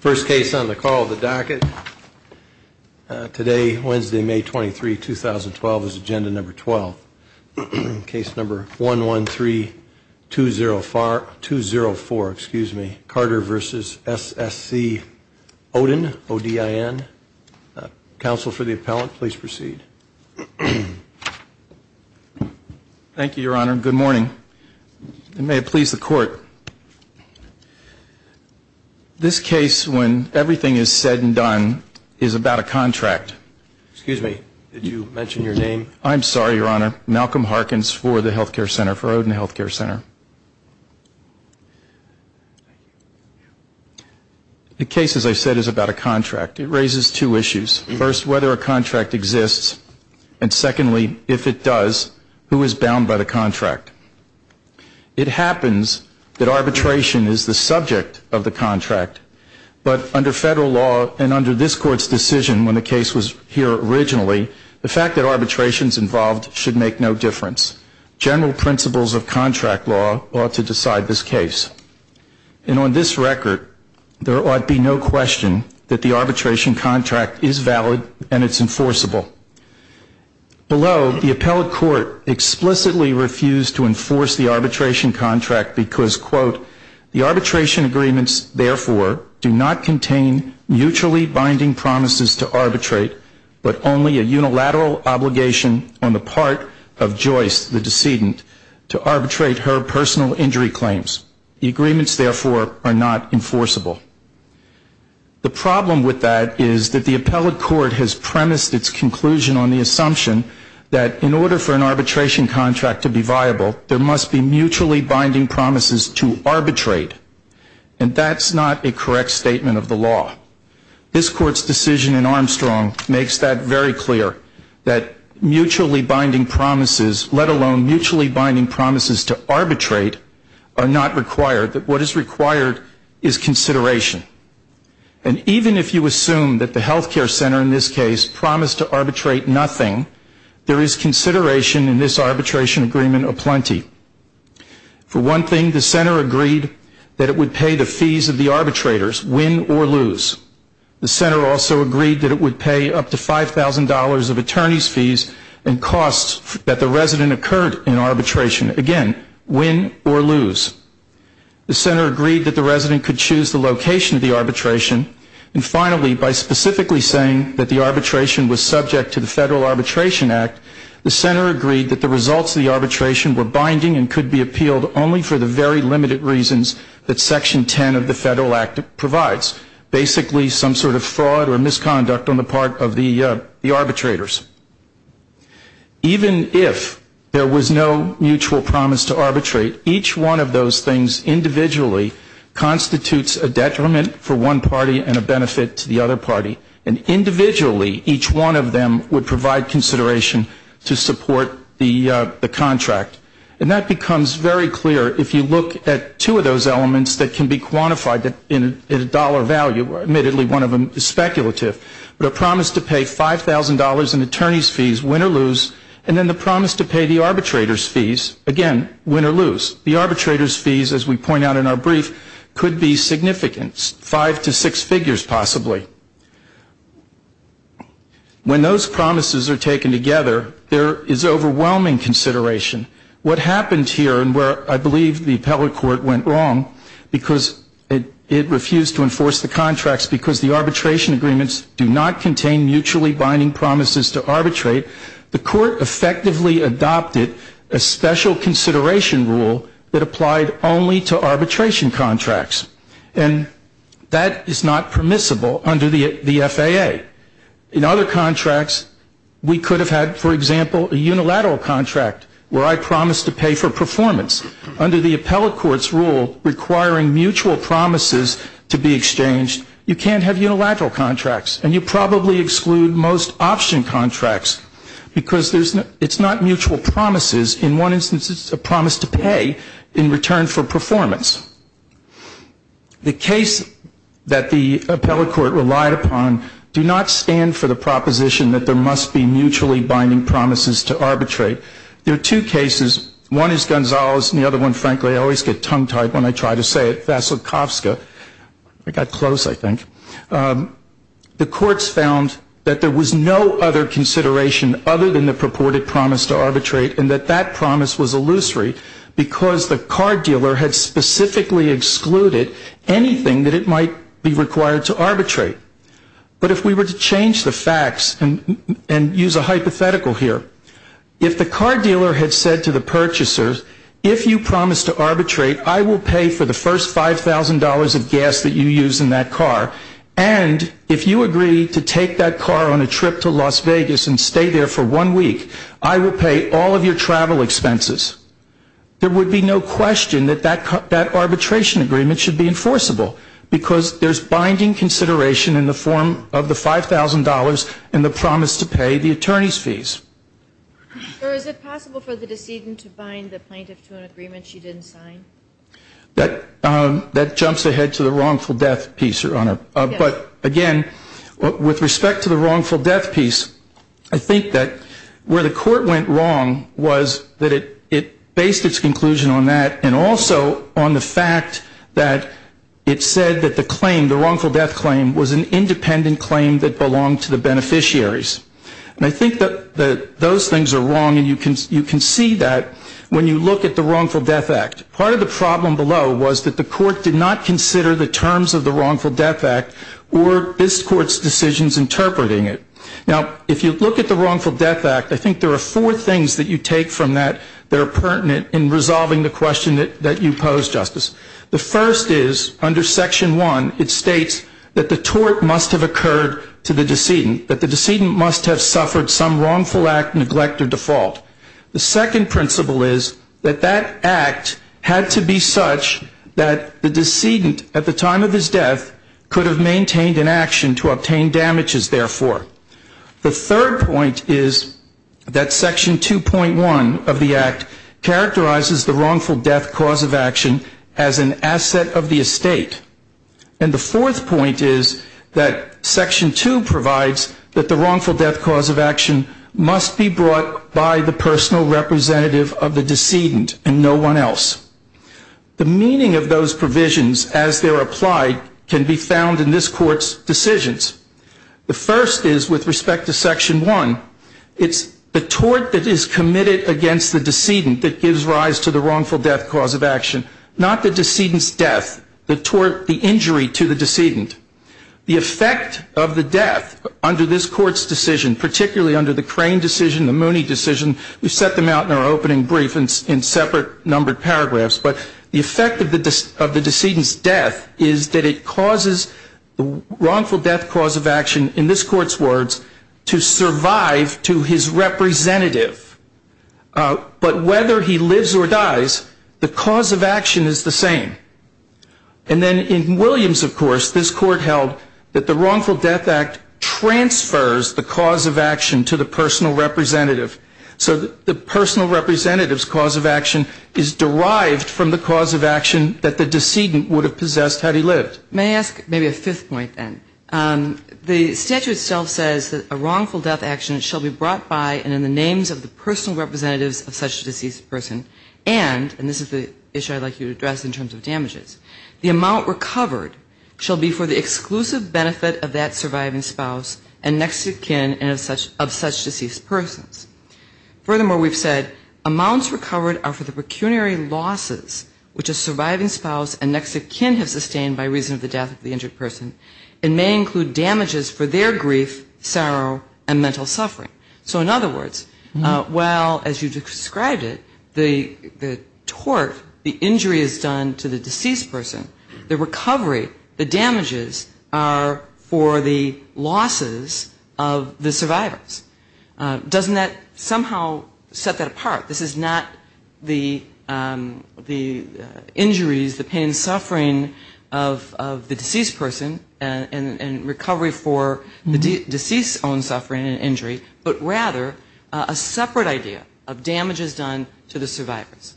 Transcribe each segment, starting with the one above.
First case on the call of the docket. Today, Wednesday, May 23, 2012, is agenda number 12. Case number 113204, Carter v. SSC Odin. Counsel for the appellant, please proceed. Thank you, your honor. Good morning. May it please the court. This case, when everything is said and done, is about a contract. Excuse me, did you mention your name? I'm sorry, your honor. Malcolm Harkins for the health care center, for Odin Health Care Center. The case, as I said, is about a contract. It raises two issues. First, whether a contract exists. And secondly, if it does, who is bound by the contract? It happens that arbitration is the subject of the contract. But under federal law and under this court's decision when the case was here originally, the fact that arbitration is involved should make no difference. General principles of contract law ought to decide this case. And on this record, there ought be no question that the arbitration contract is valid and it's enforceable. Although the appellate court explicitly refused to enforce the arbitration contract because, quote, the arbitration agreements, therefore, do not contain mutually binding promises to arbitrate, but only a unilateral obligation on the part of Joyce, the decedent, to arbitrate her personal injury claims. The agreements, therefore, are not enforceable. The problem with that is that the appellate court has premised its conclusion on the assumption that in order for an arbitration contract to be viable, there must be mutually binding promises to arbitrate. And that's not a correct statement of the law. This court's decision in Armstrong makes that very clear, that mutually binding promises, let alone mutually binding promises to arbitrate, are not required. What is required is consideration. And even if you assume that the health care center in this case promised to arbitrate nothing, there is consideration in this arbitration agreement aplenty. For one thing, the center agreed that it would pay the fees of the arbitrators, win or lose. The center also agreed that it would pay up to $5,000 of attorney's fees and costs that the resident occurred in arbitration, again, win or lose. The center agreed that the resident could choose the location of the arbitration. And finally, by specifically saying that the arbitration was subject to the Federal Arbitration Act, the center agreed that the results of the arbitration were binding and could be appealed only for the very limited reasons that Section 10 of the Federal Act provides, basically some sort of fraud or misconduct on the part of the arbitrators. Even if there was no mutual promise to arbitrate, each one of those things individually constitutes a detriment for one party and a benefit to the other party. And individually, each one of them would provide consideration to support the contract. And that becomes very clear if you look at two of those elements that can be quantified in a dollar value. Admittedly, one of them is speculative. The promise to pay $5,000 in attorney's fees, win or lose, and then the promise to pay the arbitrator's fees, again, win or lose. The arbitrator's fees, as we point out in our brief, could be significant, five to six figures possibly. When those promises are taken together, there is overwhelming consideration. What happened here, and where I believe the appellate court went wrong because it refused to enforce the contracts because the arbitration agreements do not contain mutually binding promises to arbitrate, the court effectively adopted a special consideration rule that applied only to arbitration contracts. And that is not permissible under the FAA. In other contracts, we could have had, for example, a unilateral contract where I promised to pay for performance. Under the appellate court's rule requiring mutual promises to be exchanged, you can't have unilateral contracts. And you probably exclude most option contracts because it's not mutual promises. In one instance, it's a promise to pay in return for performance. The case that the appellate court relied upon do not stand for the proposition that there must be mutually binding promises to arbitrate. There are two cases. One is Gonzales, and the other one, frankly, I always get tongue-tied when I try to say it, Vasilkovska. I got close, I think. The courts found that there was no other consideration other than the purported promise to arbitrate and that that promise was illusory because the car dealer had specifically excluded anything that it might be required to arbitrate. But if we were to change the facts and use a hypothetical here, if the car dealer had said to the purchasers, if you promise to arbitrate, I will pay for the first $5,000 of gas that you use in that car, and if you agree to take that car on a trip to Las Vegas and stay there for one week, I will pay all of your travel expenses, there would be no question that that arbitration agreement should be enforceable because there's binding consideration in the form of the $5,000 and the promise to pay the attorney's fees. Sir, is it possible for the decedent to bind the plaintiff to an agreement she didn't sign? That jumps ahead to the wrongful death piece, Your Honor. But again, with respect to the wrongful death piece, I think that where the court went wrong was that it based its conclusion on that and also on the fact that it said that the claim, the wrongful death claim, was an independent claim that belonged to the beneficiaries. And I think that those things are wrong and you can see that when you look at the wrongful death act. Part of the problem below was that the court did not consider the terms of the wrongful death act or this court's decisions interpreting it. Now, if you look at the wrongful death act, I think there are four things that you take from that that are pertinent in resolving the question that you pose, Justice. The first is, under Section 1, it states that the tort must have occurred to the decedent, that the decedent must have suffered some wrongful act, neglect, or default. The second principle is that that act had to be such that the decedent, at the time of his death, could have maintained an action to obtain damages, therefore. The third point is that Section 2.1 of the act characterizes the wrongful death cause of action as an asset of the estate. And the fourth point is that Section 2 provides that the wrongful death cause of action must be brought by the personal representative of the decedent and no one else. The meaning of those provisions, as they're applied, can be found in this court's decisions. The first is, with respect to Section 1, it's the tort that is committed against the decedent that gives rise to the wrongful death cause of action, not the decedent's death, the injury to the decedent. The effect of the death under this court's decision, particularly under the Crane decision, the Mooney decision, we set them out in our opening brief in separate numbered paragraphs, but the effect of the decedent's death is that it causes the wrongful death cause of action, in this court's words, to survive to his representative. But whether he lives or dies, the cause of action is the same. And then in Williams, of course, this court held that the Wrongful Death Act transfers the cause of action to the personal representative. So the personal representative's cause of action is derived from the cause of action that the decedent would have possessed had he lived. May I ask maybe a fifth point then? The statute itself says that a wrongful death action shall be brought by and in the names of the personal representatives of such a deceased person, and this is the issue I'd like you to address in terms of damages, the amount recovered shall be for the exclusive benefit of that surviving spouse and next of kin and of such deceased persons. Furthermore, we've said amounts recovered are for the pecuniary losses which a surviving spouse and next of kin have sustained by reason of the death of the injured person and may include damages for their grief, sorrow, and mental suffering. So in other words, while as you described it, the tort, the injury is done to the deceased person, the recovery, the damages are for the losses of the survivors. Doesn't that somehow set that apart? This is not the injuries, the pain and suffering of the deceased person and recovery for the deceased's own suffering and injury, but rather a separate idea of damages done to the survivors.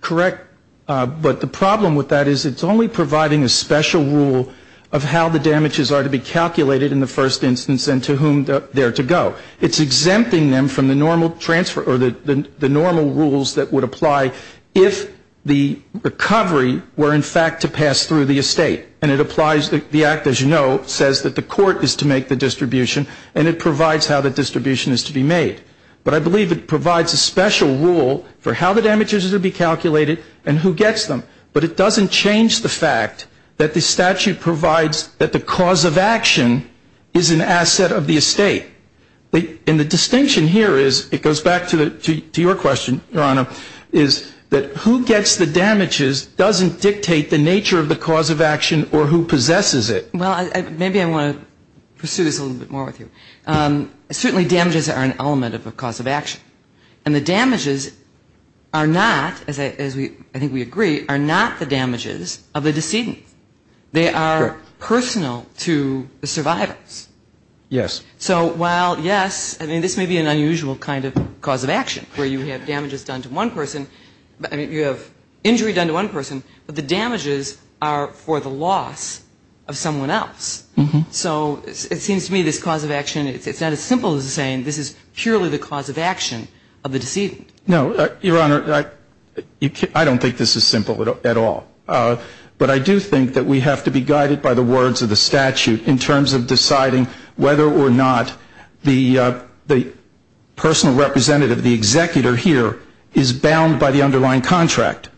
Correct. But the problem with that is it's only providing a special rule of how the damages are to be calculated in the first instance and to whom they're to go. It's exempting them from the normal transfer or the normal rules that would apply if the recovery were in fact to pass through the estate, and it applies the act as you know says that the court is to make the distribution and it provides how the distribution is to be made. But I believe it provides a special rule for how the damages are to be calculated and who gets them. But it doesn't change the fact that the statute provides that the cause of action is an asset of the estate. And the distinction here is, it goes back to your question, Your Honor, is that who gets the damages doesn't dictate the nature of the cause of action or who possesses it. Well, maybe I want to pursue this a little bit more with you. Certainly damages are an element of a cause of action. And the damages are not, as I think we agree, are not the damages of the decedent. They are personal to the survivors. Yes. So while, yes, I mean, this may be an unusual kind of cause of action where you have damages done to one person, I mean, you have injury done to one person, but the damages are for the loss of someone else. So it seems to me this cause of action, it's not as simple as saying this is purely the cause of action of the decedent. No. Your Honor, I don't think this is simple at all. But I do think that we have to be guided by the words of the statute in terms of deciding whether or not the personal representative, the executor here, is bound by the underlying contract.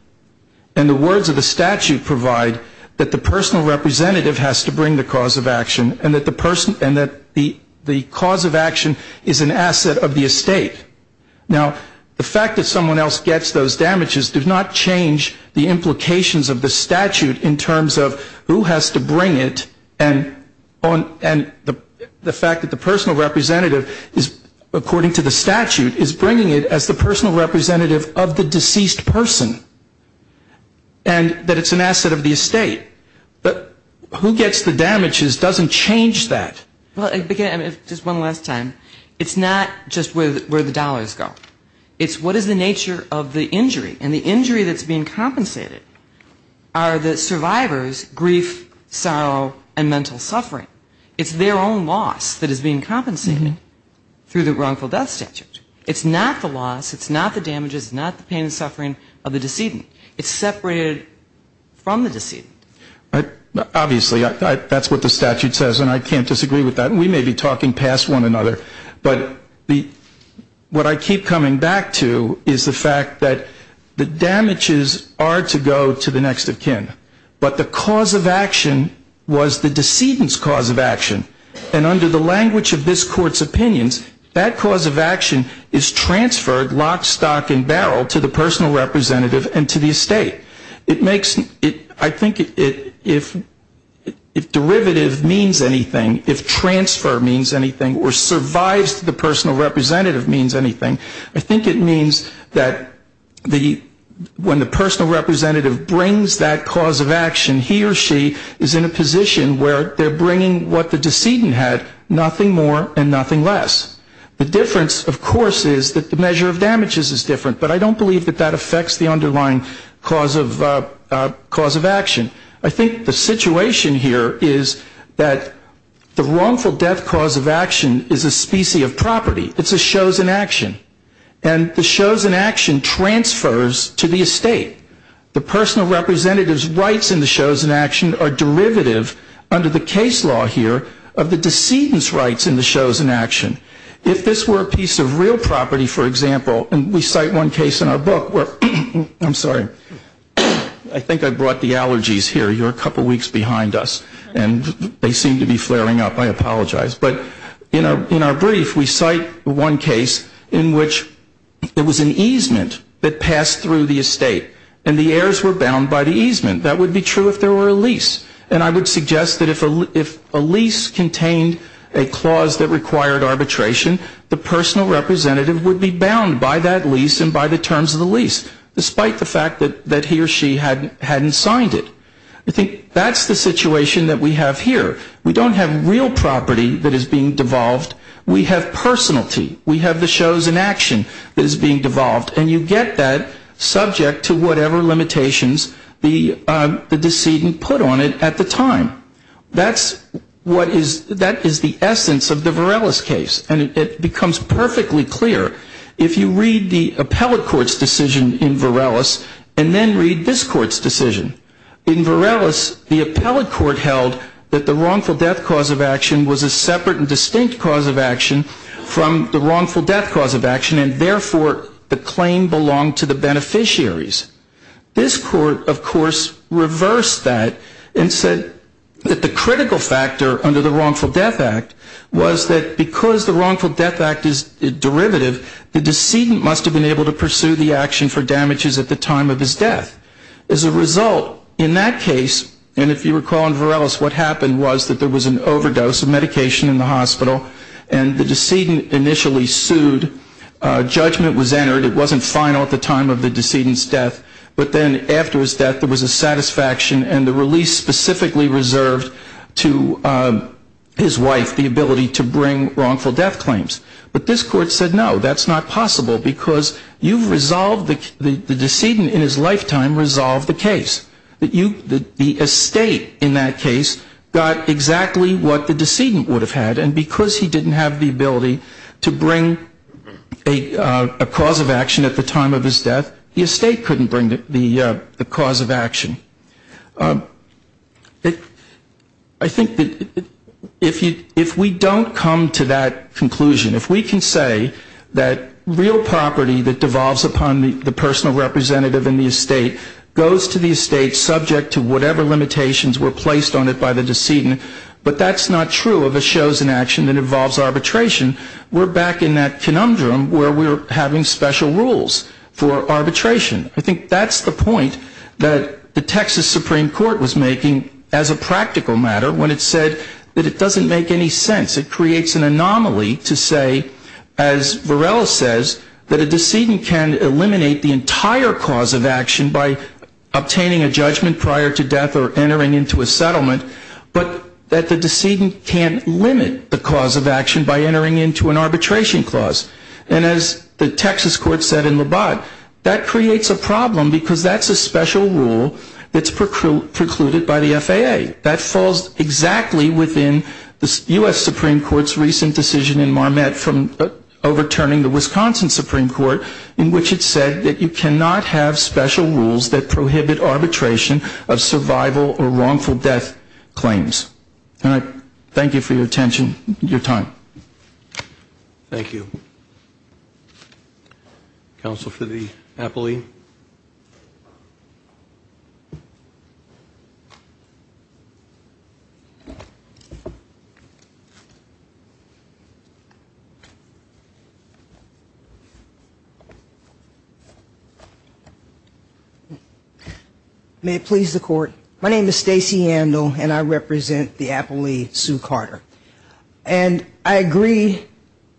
And the words of the statute provide that the personal representative has to bring the cause of action and that the cause of action is an asset of the estate. Now, the fact that someone else gets those damages does not change the implications of the statute in terms of who has to bring it and the fact that the personal representative is, according to the statute, is bringing it as the personal representative of the deceased person and that it's an asset of the estate. But who gets the damages doesn't change that. Well, again, just one last time, it's not just where the dollars go. It's what is the nature of the injury. And the injury that's being compensated are the survivor's grief, sorrow, and mental suffering. It's their own loss that is being compensated through the wrongful death statute. It's not the loss, it's not the damages, it's not the pain and suffering of the decedent. It's separated from the decedent. Obviously, that's what the statute says, and I can't disagree with that. We may be talking past one another. But what I keep coming back to is the fact that the damages are to go to the next of kin, but the cause of action was the decedent's cause of action. And under the language of this Court's opinions, that cause of action is transferred lock, stock, and barrel to the personal representative and to the estate. I think if derivative means anything, if transfer means anything, or survives to the personal representative means anything, I think it means that when the personal representative brings that cause of action, he or she is in a position where they're bringing what the decedent had, nothing more and nothing less. The difference, of course, is that the measure of damages is different, but I don't believe that that affects the underlying cause of action. I think the situation here is that the wrongful death cause of action is a specie of property. It's a chosen action, and the chosen action transfers to the estate. The personal representative's rights in the chosen action are derivative, under the case law here, of the decedent's rights in the chosen action. If this were a piece of real property, for example, and we cite one case in our book where, I'm sorry, I think I brought the allergies here. You're a couple weeks behind us, and they seem to be flaring up. I apologize. But in our brief, we cite one case in which there was an easement that passed through the estate, and the heirs were bound by the easement. That would be true if there were a lease. And I would suggest that if a lease contained a clause that required arbitration, the personal representative would be bound by that lease and by the terms of the lease, despite the fact that he or she hadn't signed it. I think that's the situation that we have here. We don't have real property that is being devolved. We have personality. We have the shows in action that is being devolved, and you get that subject to whatever limitations the decedent put on it at the time. That is the essence of the Varelis case. And it becomes perfectly clear if you read the appellate court's decision in Varelis and then read this court's decision. In Varelis, the appellate court held that the wrongful death cause of action was a separate and distinct cause of action from the wrongful death cause of action, and therefore the claim belonged to the beneficiaries. This court, of course, reversed that and said that the critical factor under the wrongful death act was that because the wrongful death act is derivative, the decedent must have been able to pursue the action for damages at the time of his death. As a result, in that case, and if you recall in Varelis, what happened was that there was an overdose of medication in the hospital, and the decedent initially sued. Judgment was entered. It wasn't final at the time of the decedent's death, but then after his death, there was a satisfaction and the release specifically reserved to his wife, the ability to bring wrongful death claims. But this court said, no, that's not possible because you've resolved the decedent in his lifetime The estate in that case got exactly what the decedent would have had, and because he didn't have the ability to bring a cause of action at the time of his death, the estate couldn't bring the cause of action. I think that if we don't come to that conclusion, if we can say that real property that devolves upon the personal representative in the estate goes to the estate subject to whatever limitations were placed on it by the decedent, but that's not true of a chosen action that involves arbitration, we're back in that conundrum where we're having special rules for arbitration. I think that's the point that the Texas Supreme Court was making as a practical matter when it said that it doesn't make any sense. It creates an anomaly to say, as Varela says, that a decedent can eliminate the entire cause of action by obtaining a judgment prior to death or entering into a settlement, but that the decedent can't limit the cause of action by entering into an arbitration clause. And as the Texas court said in Labatt, that creates a problem because that's a special rule that's precluded by the FAA. That falls exactly within the U.S. Supreme Court's recent decision in Marmette from overturning the Wisconsin Supreme Court in which it said that you cannot have special rules that prohibit arbitration of survival or wrongful death claims. And I thank you for your attention, your time. Thank you. Counsel for the appellee. May it please the court. My name is Stacey Andel and I represent the appellee, Sue Carter. And I agree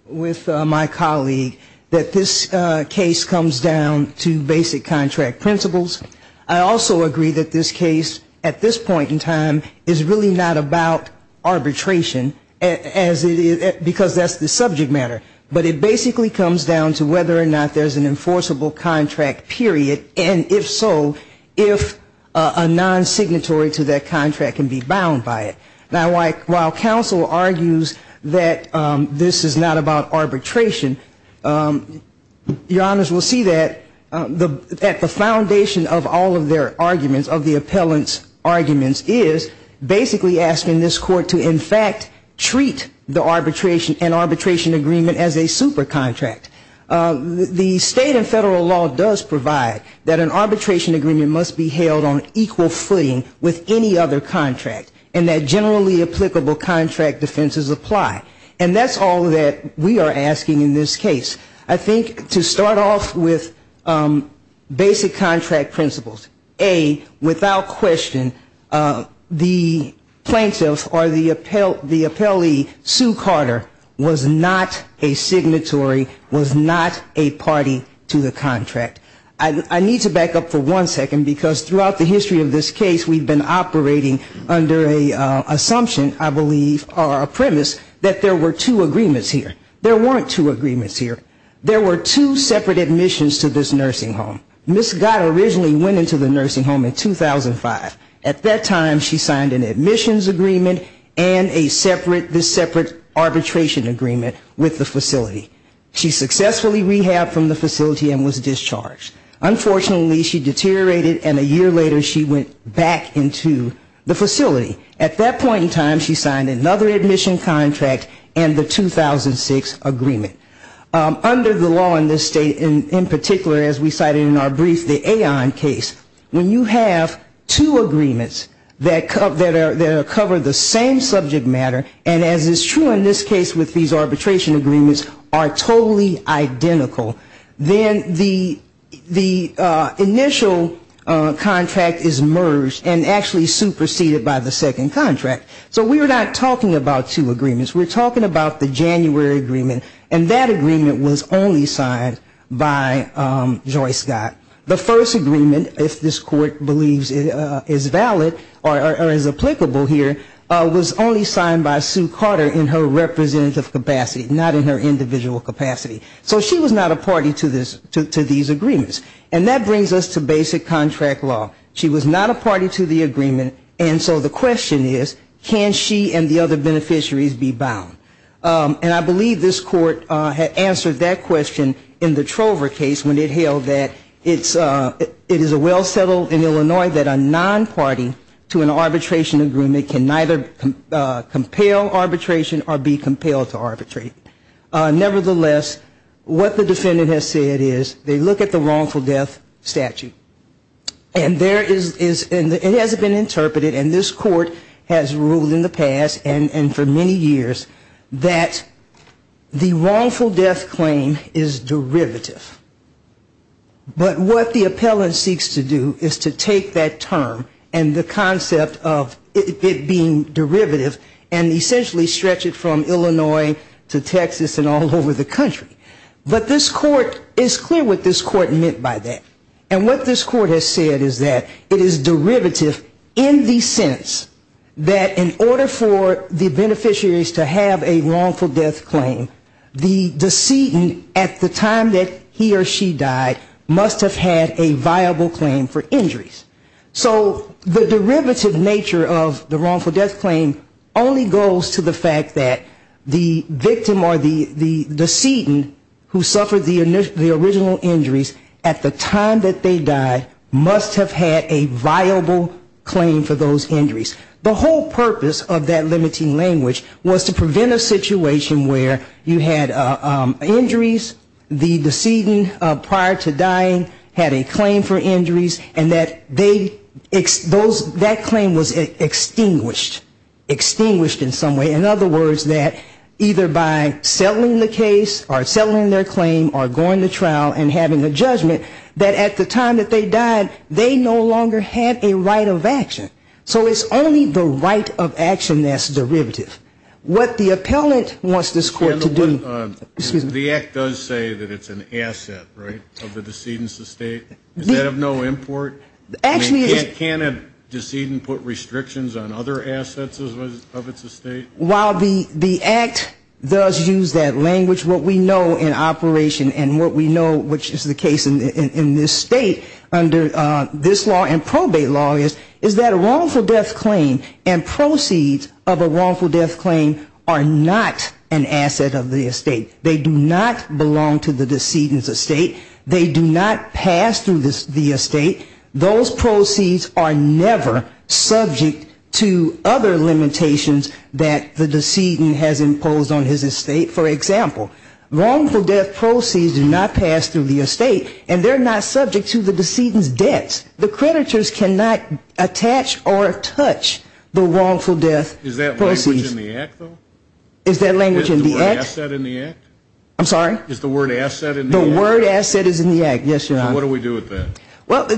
with my colleague that this case comes down to basic contract principles. I also agree that this case at this point in time is really not about arbitration as it is because that's the subject matter. But it basically comes down to whether or not there's an enforceable contract period, and if so, if a non-signatory to that contract can be bound by it. Now while counsel argues that this is not about arbitration, your honors will see that the foundation of all of their arguments, of the appellant's arguments is basically asking this court to in fact treat the arbitration and arbitration agreement as a super contract. The state and federal law does provide that an arbitration agreement must be held on equal footing with any other contract. And that generally applicable contract defenses apply. And that's all that we are asking in this case. I think to start off with basic contract principles, A, without question, the plaintiff or the appellee, Sue Carter, was not a signatory, was not a party to the contract. I need to back up for one second, because throughout the history of this case we've been operating under an assumption, I believe, or a premise that there were two agreements here. There weren't two agreements here. There were two separate admissions to this nursing home. Ms. Carter originally went into the nursing home in 2005. At that time she signed an admissions agreement and a separate arbitration agreement with the facility. She successfully rehabbed from the facility and was discharged. Unfortunately she deteriorated and a year later she went back into the facility. At that point in time she signed another admission contract and the 2006 agreement. Under the law in this state, in particular as we cited in our brief, the Aon case, when you have two agreements that cover the same subject matter, and as is true in this case with these arbitration agreements, are totally identical, then the initial contract is merged and actually superseded by the second contract. So we're not talking about two agreements. We're talking about the January agreement, and that agreement was only signed by Joy Scott. The first agreement, if this Court believes is valid or is applicable here, was only signed by Joy Scott. It was signed by Sue Carter in her representative capacity, not in her individual capacity. So she was not a party to these agreements. And that brings us to basic contract law. She was not a party to the agreement. And so the question is, can she and the other beneficiaries be bound? And I believe this Court had answered that question in the Trover case when it held that it is a well settled in Illinois that a non-party to an agreement would compel arbitration or be compelled to arbitrate. Nevertheless, what the defendant has said is they look at the wrongful death statute. And there is, and it has been interpreted, and this Court has ruled in the past and for many years, that the wrongful death claim is derivative. But what the appellant seeks to do is to take that term and the concept of it being derivative, and the term derivative and essentially stretch it from Illinois to Texas and all over the country. But this Court, it's clear what this Court meant by that. And what this Court has said is that it is derivative in the sense that in order for the beneficiaries to have a wrongful death claim, the decedent at the time that he or she died must have had a viable claim for injuries. So the derivative nature of the wrongful death claim only goes to the fact that the victim or the decedent who suffered the original injuries at the time that they died must have had a viable claim for those injuries. The whole purpose of that limiting language was to prevent a situation where you had injuries, the decedent prior to dying had a viable claim for those injuries, and that claim was extinguished, extinguished in some way. In other words, that either by settling the case or settling their claim or going to trial and having a judgment, that at the time that they died, they no longer had a right of action. So it's only the right of action that's derivative. What the appellant wants this Court to do. The Act does say that it's an asset, right, of the decedent's estate. Does that have no import? Can't a decedent put restrictions on other assets of its estate? While the Act does use that language, what we know in operation and what we know, which is the case in this State under this law and probate law, is that a wrongful death claim and proceeds of a wrongful death claim are not an asset of the estate. They do not belong to the decedent's estate. They do not pass through the estate. Those proceeds are never subject to other limitations that the decedent has imposed on his estate. For example, wrongful death proceeds do not pass through the estate, and they're not subject to the decedent's debts. The creditors cannot attach or touch the wrongful death proceeds. Is that language in the Act, though? Is the word asset in the Act? The word asset is in the Act, yes, Your Honor. What do we do with that? What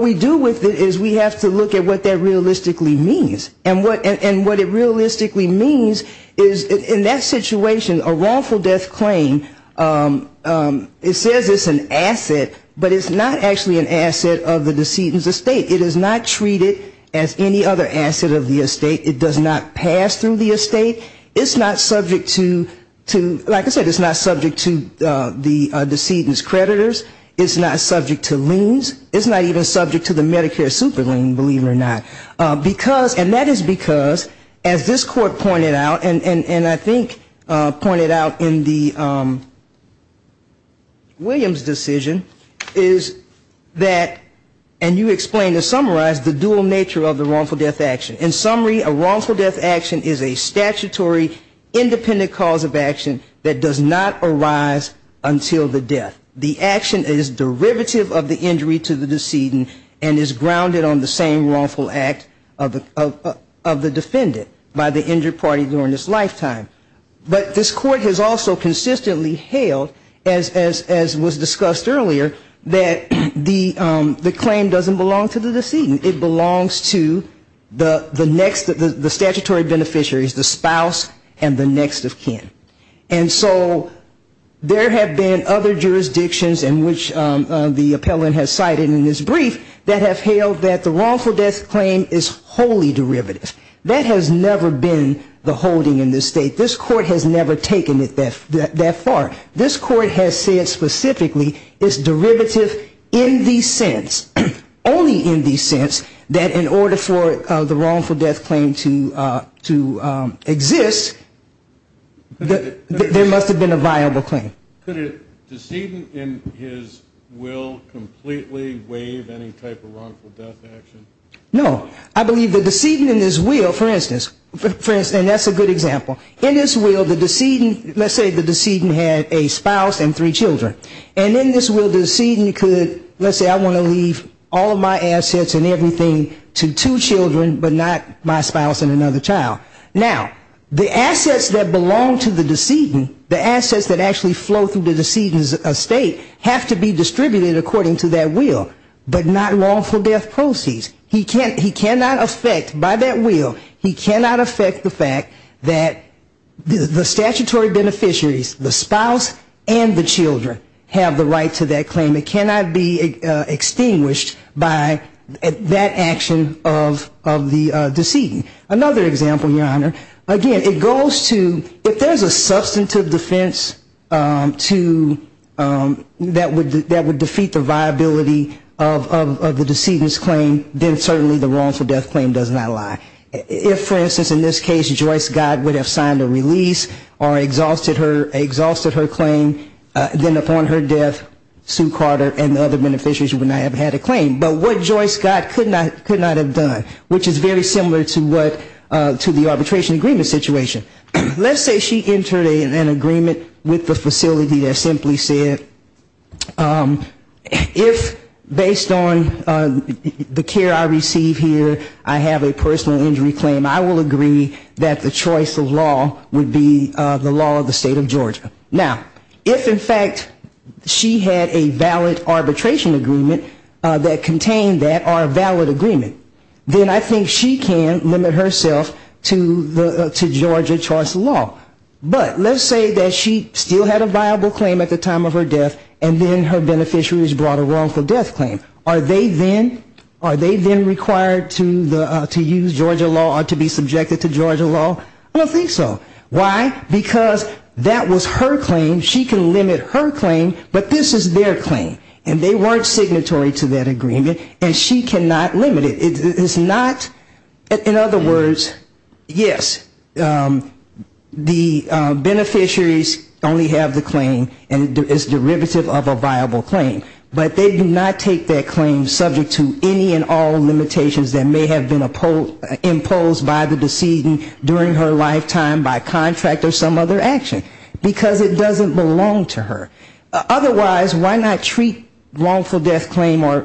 we do with it is we have to look at what that realistically means. And what it realistically means is in that situation, a wrongful death claim, it says it's an asset, but it's not actually an asset of the decedent's estate. It is not treated as any other asset of the estate. It does not pass through the estate. It's not subject to, like I said, it's not subject to the decedent's creditors. It's not subject to liens. It's not even subject to the Medicare super lien, believe it or not. Because, and that is because, as this Court pointed out, and I think pointed out in the Williams decision, is that, and you explained and summarized the dual nature of the wrongful death action. In summary, a wrongful death action is a statutory independent cause of action that does not arise until the death. The action is derivative of the injury to the decedent and is grounded on the same wrongful action. And so there have been other jurisdictions in which the appellant has cited in his brief that have held that the wrongful death claim is wholly derivative. That has never been the holding in this State. This Court has never taken it that far. This Court has said specifically it's derivative in the sense, only in the sense, that in order for the wrongful death claim to exist, there must have been a viable claim. Could a decedent in his will completely waive any type of wrongful death action? No. I believe the decedent in his will, for instance, and that's a good example, in his will the decedent, let's say the decedent had a spouse and three children. And in this will the decedent could, let's say I want to leave all of my assets and everything to two children, but not my spouse and another child. Now, the assets that belong to the decedent, the assets that actually flow through the decedent's estate have to be distributed according to that will, but not wrongful death proceeds. He cannot affect by that will, he cannot affect the fact that the statutory beneficiaries, the spouse and the children, have the right to that claim. It cannot be extinguished by that action of the decedent. Again, it goes to, if there's a substantive defense that would defeat the viability of the decedent's claim, then certainly the wrongful death claim does not lie. If, for instance, in this case Joyce Godd would have signed a release or exhausted her claim, then upon her death, Sue Carter and the other beneficiaries would not have had a claim. But what Joyce Godd could not have done, which is very similar to what, to the arbitration agreement situation. Let's say she entered an agreement with the facility that simply said, if based on the care I receive here, I have a personal injury claim, I will agree that the choice of law would be the law of the state of Georgia. Now, if in fact she had a valid arbitration agreement that contained that, or a valid agreement, then I think she can limit herself to Georgia choice of law. But let's say that she still had a viable claim at the time of her death, and then her beneficiaries brought a wrongful death claim. Are they then required to use Georgia law or to be subjected to Georgia law? I don't think so. Why? Because that was her claim. She can limit her claim, but this is their claim. And they weren't signatory to that agreement, and she cannot limit it. It's not, in other words, yes, the beneficiaries only have the claim, and it's derivative of a viable claim. But they do not take that claim subject to any and all limitations that may have been imposed by the decedent during her lifetime by contract or some other action, because it doesn't belong to her. Otherwise, why not treat wrongful death claim or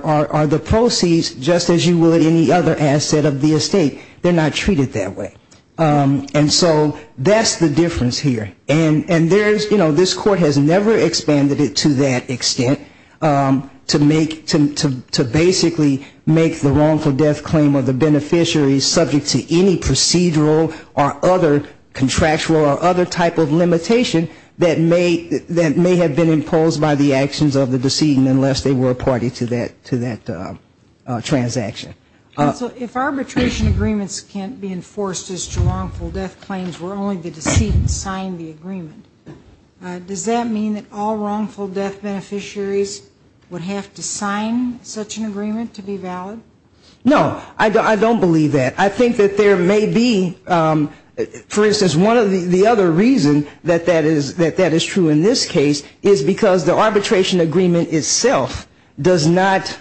the proceeds just as you would any other asset of the estate? They're not treated that way. And so that's the difference here. And there's, you know, this Court has never expanded it to that extent, to make, to basically make the wrongful death claim of the beneficiaries subject to any procedural or other contractual or other type of limitation that may have been imposed by the actions of the decedent unless they were a party to that transaction. So if arbitration agreements can't be enforced as to wrongful death claims where only the decedent signed the agreement, does that mean that all wrongful death beneficiaries would have to sign such an agreement to be valid? No, I don't believe that. I think that there may be, for instance, one of the other reasons that that is true in this case is because the arbitration agreement itself does not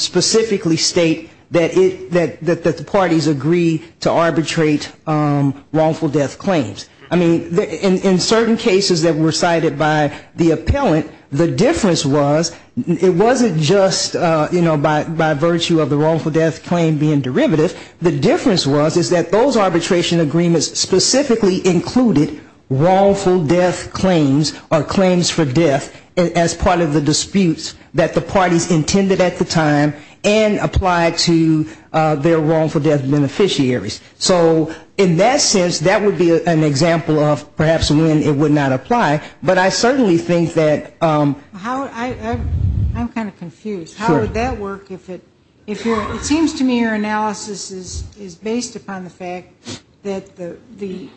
specifically state that it, that the parties agree to arbitrate wrongful death claims. I mean, in certain cases that were cited by the appellant, the difference was, it wasn't just, you know, by virtue of the fact that the parties agreed to the wrongful death claim being derivative, the difference was is that those arbitration agreements specifically included wrongful death claims or claims for death as part of the disputes that the parties intended at the time and applied to their wrongful death beneficiaries. So in that sense, that would be an example of perhaps when it would not apply. But I certainly think that that would be an example. I'm kind of confused. How would that work? It seems to me your analysis is based upon the fact that the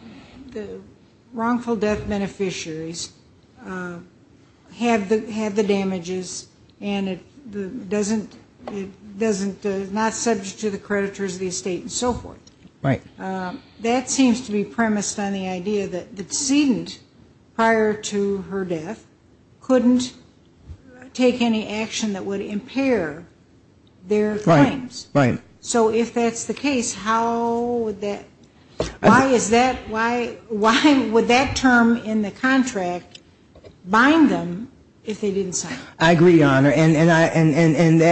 wrongful death beneficiaries have the damages and it doesn't, not subject to the creditors of the estate and so forth. That seems to be premised on the idea that the decedent prior to her death couldn't take any action that would impair their claims. Right. So if that's the case, how would that, why is that, why would that term in the contract bind them if they didn't cite it? I agree, Your Honor. And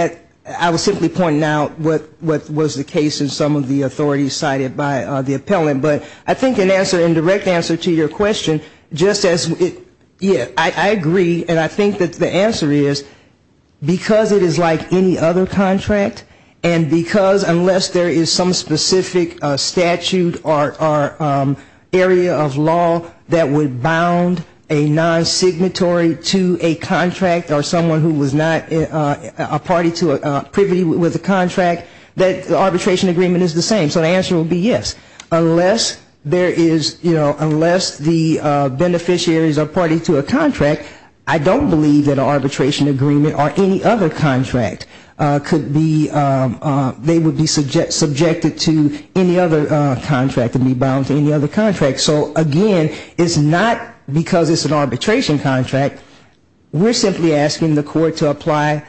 I was simply pointing out what was the case in some of the authorities cited by the appellant. But I think in direct answer to your question, just as, yeah, I agree, and I think that the answer is, because it is like any other contract, and because unless there is some specific statute or area of law that would bound a non-signatory to a contract or someone who was not a party to a privity with a contract, that arbitration agreement is the same. So the answer would be yes. Unless there is, you know, unless the beneficiaries are party to a contract, I don't believe that an arbitration agreement or any other contract could be, they would be subjected to any other contract and be bound to any other contract. So again, it's not because it's an arbitration contract, we're simply asking the court to apply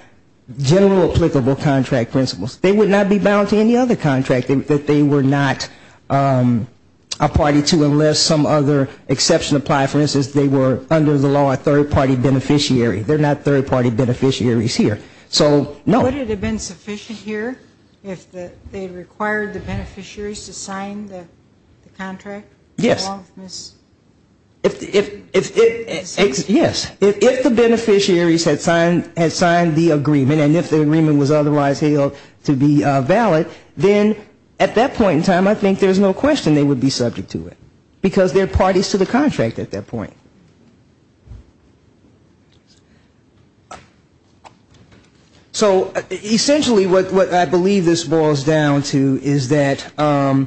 general applicable contract principles. They would not be bound to any other contract that they were not a party to unless some other exception applied. For instance, they were under the law a third-party beneficiary. They're not third-party beneficiaries here. So no. Would it have been sufficient here if they required the beneficiaries to sign the contract? Yes. Yes. If the beneficiaries had signed the agreement and if the agreement was otherwise held to be valid, then at that point in time, I think there's no question they would be subject to it, because they're parties to the contract at that point. So essentially what I believe this boils down to is that, again,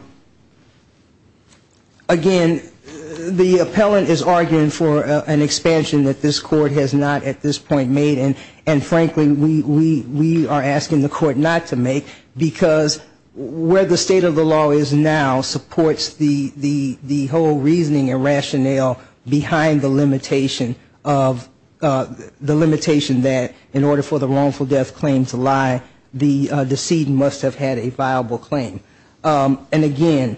there is no question that they would be subject to it. And the appellant is arguing for an expansion that this court has not at this point made, and frankly, we are asking the court not to make, because where the state of the law is now supports the whole reasoning and rationale behind the limitation of the limitation that in order for the wrongful death claim to lie, the decedent must have had a viable claim. And again,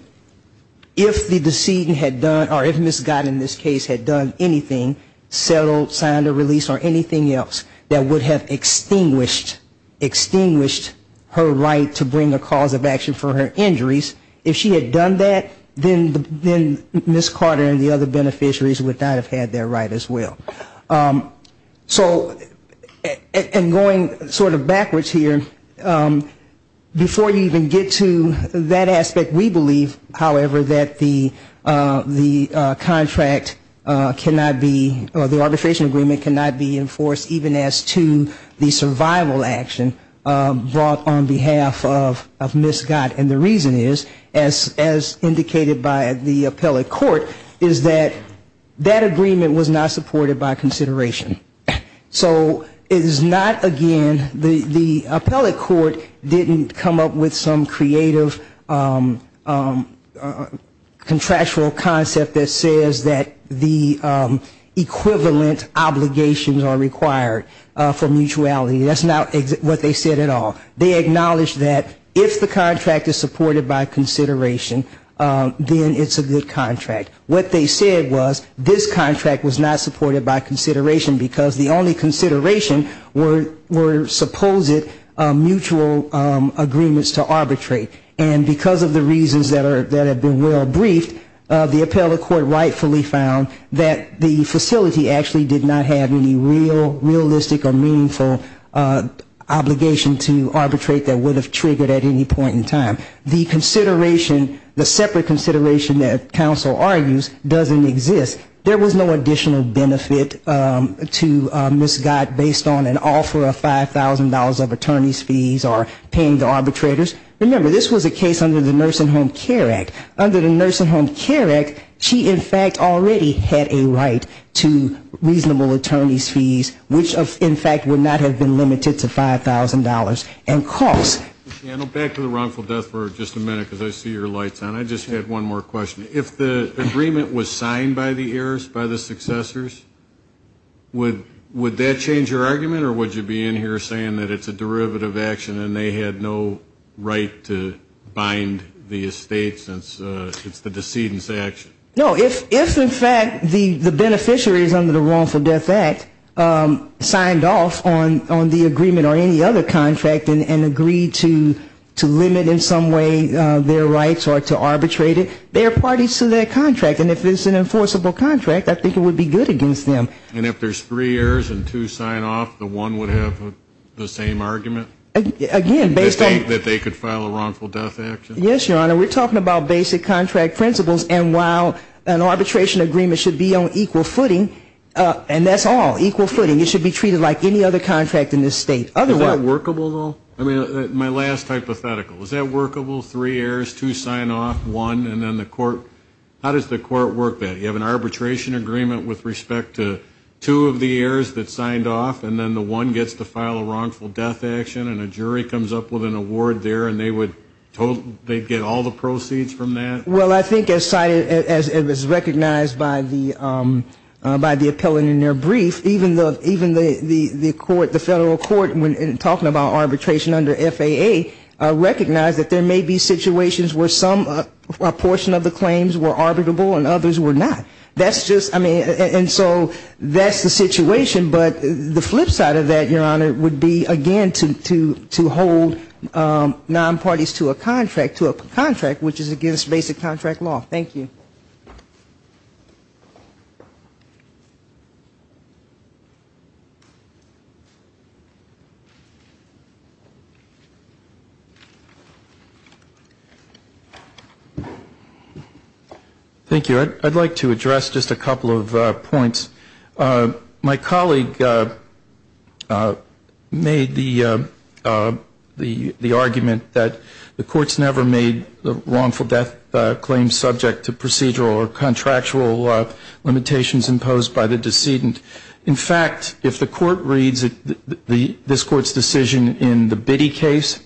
if the decedent had done, or if Ms. Gott in this case had done anything, settled, signed a release or anything else that would have extinguished, extinguished her right to bring a cause of action for her injuries, if she had done that, then Ms. Carter and the other beneficiaries would not have had their right as well. So, and going sort of backwards here, before you even get to Ms. Gott's case, Ms. Gott's case is a case where she was acquitted. And that aspect we believe, however, that the contract cannot be, or the arbitration agreement cannot be enforced, even as to the survival action brought on behalf of Ms. Gott. And the reason is, as indicated by the appellate court, is that that agreement was not supported by consideration. So it is not, again, the appellate court didn't come up with some creative contractual concept that says that the equivalent obligations are required for mutuality. That's not what they said at all. They acknowledged that if the contract is supported by consideration, then it's a good contract. And that's the reason, because the only consideration were supposed mutual agreements to arbitrate. And because of the reasons that have been well briefed, the appellate court rightfully found that the facility actually did not have any real, realistic or meaningful obligation to arbitrate that would have triggered at any point in time. The consideration, the separate consideration that counsel argues doesn't exist. There was no additional benefit to Ms. Gott based on an offer of $5,000 of attorney's fees or paying the arbitrators. Remember, this was a case under the Nursing Home Care Act. Under the Nursing Home Care Act, she in fact already had a right to reasonable attorney's fees, which in fact would not have been limited to $5,000. And costs. Back to the wrongful death for just a minute, because I see your lights on. I just had one more question. If the agreement was signed by the heirs, by the successors, would that change your argument, or would you be in here saying that it's a contract and agree to limit in some way their rights or to arbitrate it? They are parties to that contract, and if it's an enforceable contract, I think it would be good against them. And if there's three heirs and two sign off, the one would have the same argument? Again, based on the fact that they could file a wrongful death action? Yes, Your Honor, we're talking about basic contract principles, and while an arbitration agreement should be on equal footing, and that's all, equal footing, it should be treated like any other contract in this State. Is that workable, though? I mean, my last hypothetical, is that workable, three heirs, two sign off, one, and then the court, how does the court work that? You have an arbitration agreement with respect to two of the heirs that signed off, and then the one gets to file a wrongful death action, and a jury comes up with an award there, and they would get all the proceeds from that? Well, I think as cited, as recognized by the appellant in their brief, even the court, the Federal Court, talking about arbitration under FAA, recognized that there may be situations where some portion of the claims were arbitrable and others were not. That's just, I mean, and so that's the situation. But the flip side of that, Your Honor, would be, again, to hold nonparties to a contract, to a contract, which is against basic contract law. Thank you. Thank you. I'd like to address just a couple of points. My colleague made the argument that the court's never made the wrongful death claim subject to procedural or contractual limitations imposed by the decedent. In fact, if the court reads this court's decision in the Biddy case,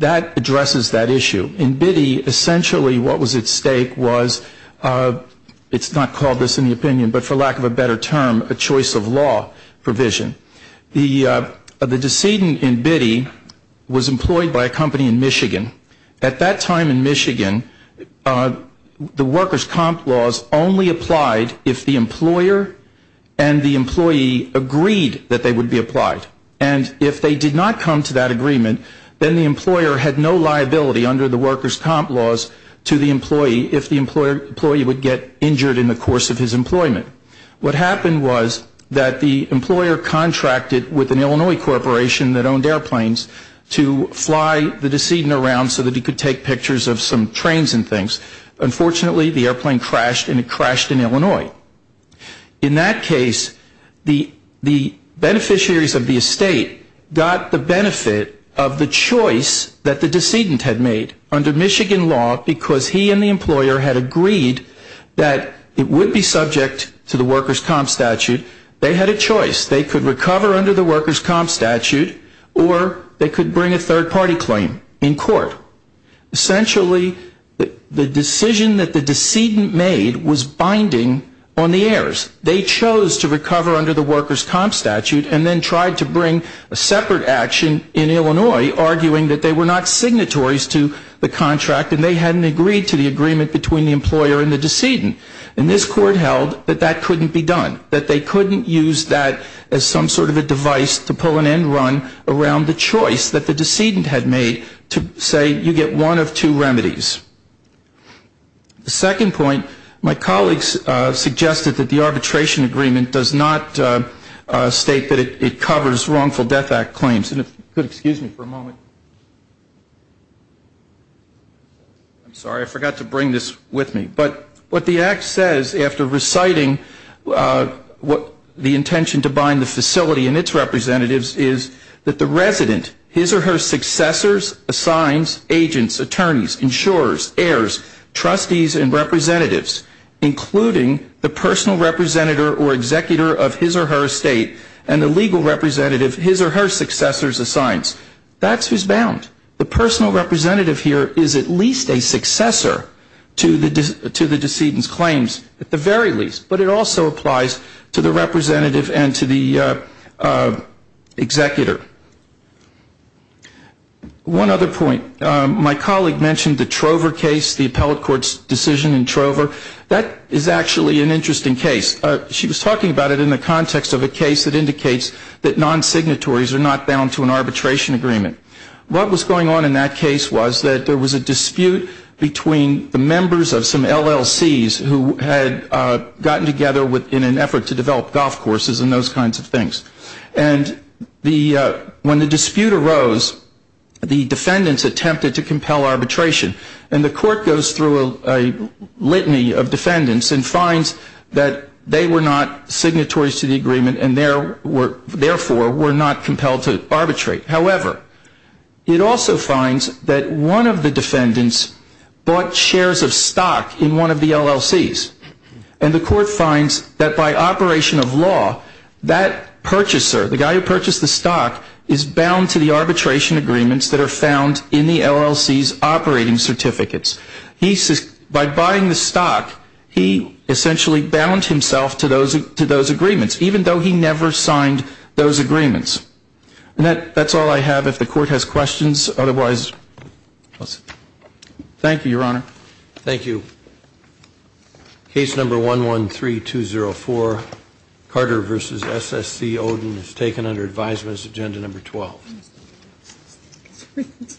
that addresses that issue. In Biddy, essentially what was at stake was, it's not called this in the opinion, but for lack of a better term, a choice of law provision. The decedent in Biddy was employed by a company in Michigan. At that time in Michigan, the workers' comp laws only applied if the employer and the employee agreed that they would be applied. And if they did not come to that agreement, then the employer had no liability under the workers' comp laws to the employee if the employee would get injured in the course of his employment. What happened was that the employer contracted with an employee to bring the decedent around so that he could take pictures of some trains and things. Unfortunately, the airplane crashed and it crashed in Illinois. In that case, the beneficiaries of the estate got the benefit of the choice that the decedent had made under Michigan law because he and the employer had agreed that it would be subject to the workers' comp statute. They had a choice. They could recover under the workers' comp statute or they could bring a third party claim in court. Essentially, the decision that the decedent made was binding on the heirs. They chose to recover under the workers' comp statute and then tried to bring a separate action in Illinois, arguing that they were not signatories to the contract and they hadn't agreed to the agreement between the employer and the decedent. And this court held that that was not the right advice to pull an end run around the choice that the decedent had made to say you get one of two remedies. The second point, my colleagues suggested that the arbitration agreement does not state that it covers wrongful death act claims. And if you could excuse me for a moment. I'm sorry. I forgot to bring this with me. But what the act says after reciting the intention to bind the facility and its representatives is that the resident, his or her successors, assigns agents, attorneys, insurers, heirs, trustees and representatives, including the personal representative or executor of his or her estate and the legal representative his or her successors assigns. That's who's bound. The personal representative here is at least a successor to the decedent's claims at the very least. But it also applies to the representative and to the executor. One other point. My colleague mentioned the Trover case, the appellate court's decision in Trover. That is actually an interesting case. She was talking about it in the context of a case that indicates that non-signatories are not bound to an arbitration agreement. What was going on in that case was that there was a dispute between the members of some LLCs who had gotten together in an effort to develop golf courses and those kinds of things. And when the dispute arose, the defendants attempted to compel arbitration. And the court goes through a litany of defendants and finds that they were not signatories to the agreement and therefore were not compelled to arbitrate. However, it also finds that one of the defendants bought shares of stock in one of the LLCs. And the court finds that by operation of law, that purchaser, the guy who purchased the stock, is bound to the arbitration agreements that are found in the LLC's operating certificates. By buying the stock, he essentially bound himself to those agreements, even though he never signed those agreements. And that's all I have if the court has questions. Otherwise, thank you, Your Honor. Thank you. Case number 113204, Carter v. S.S.C. Oden is taken under advisement as agenda number 12.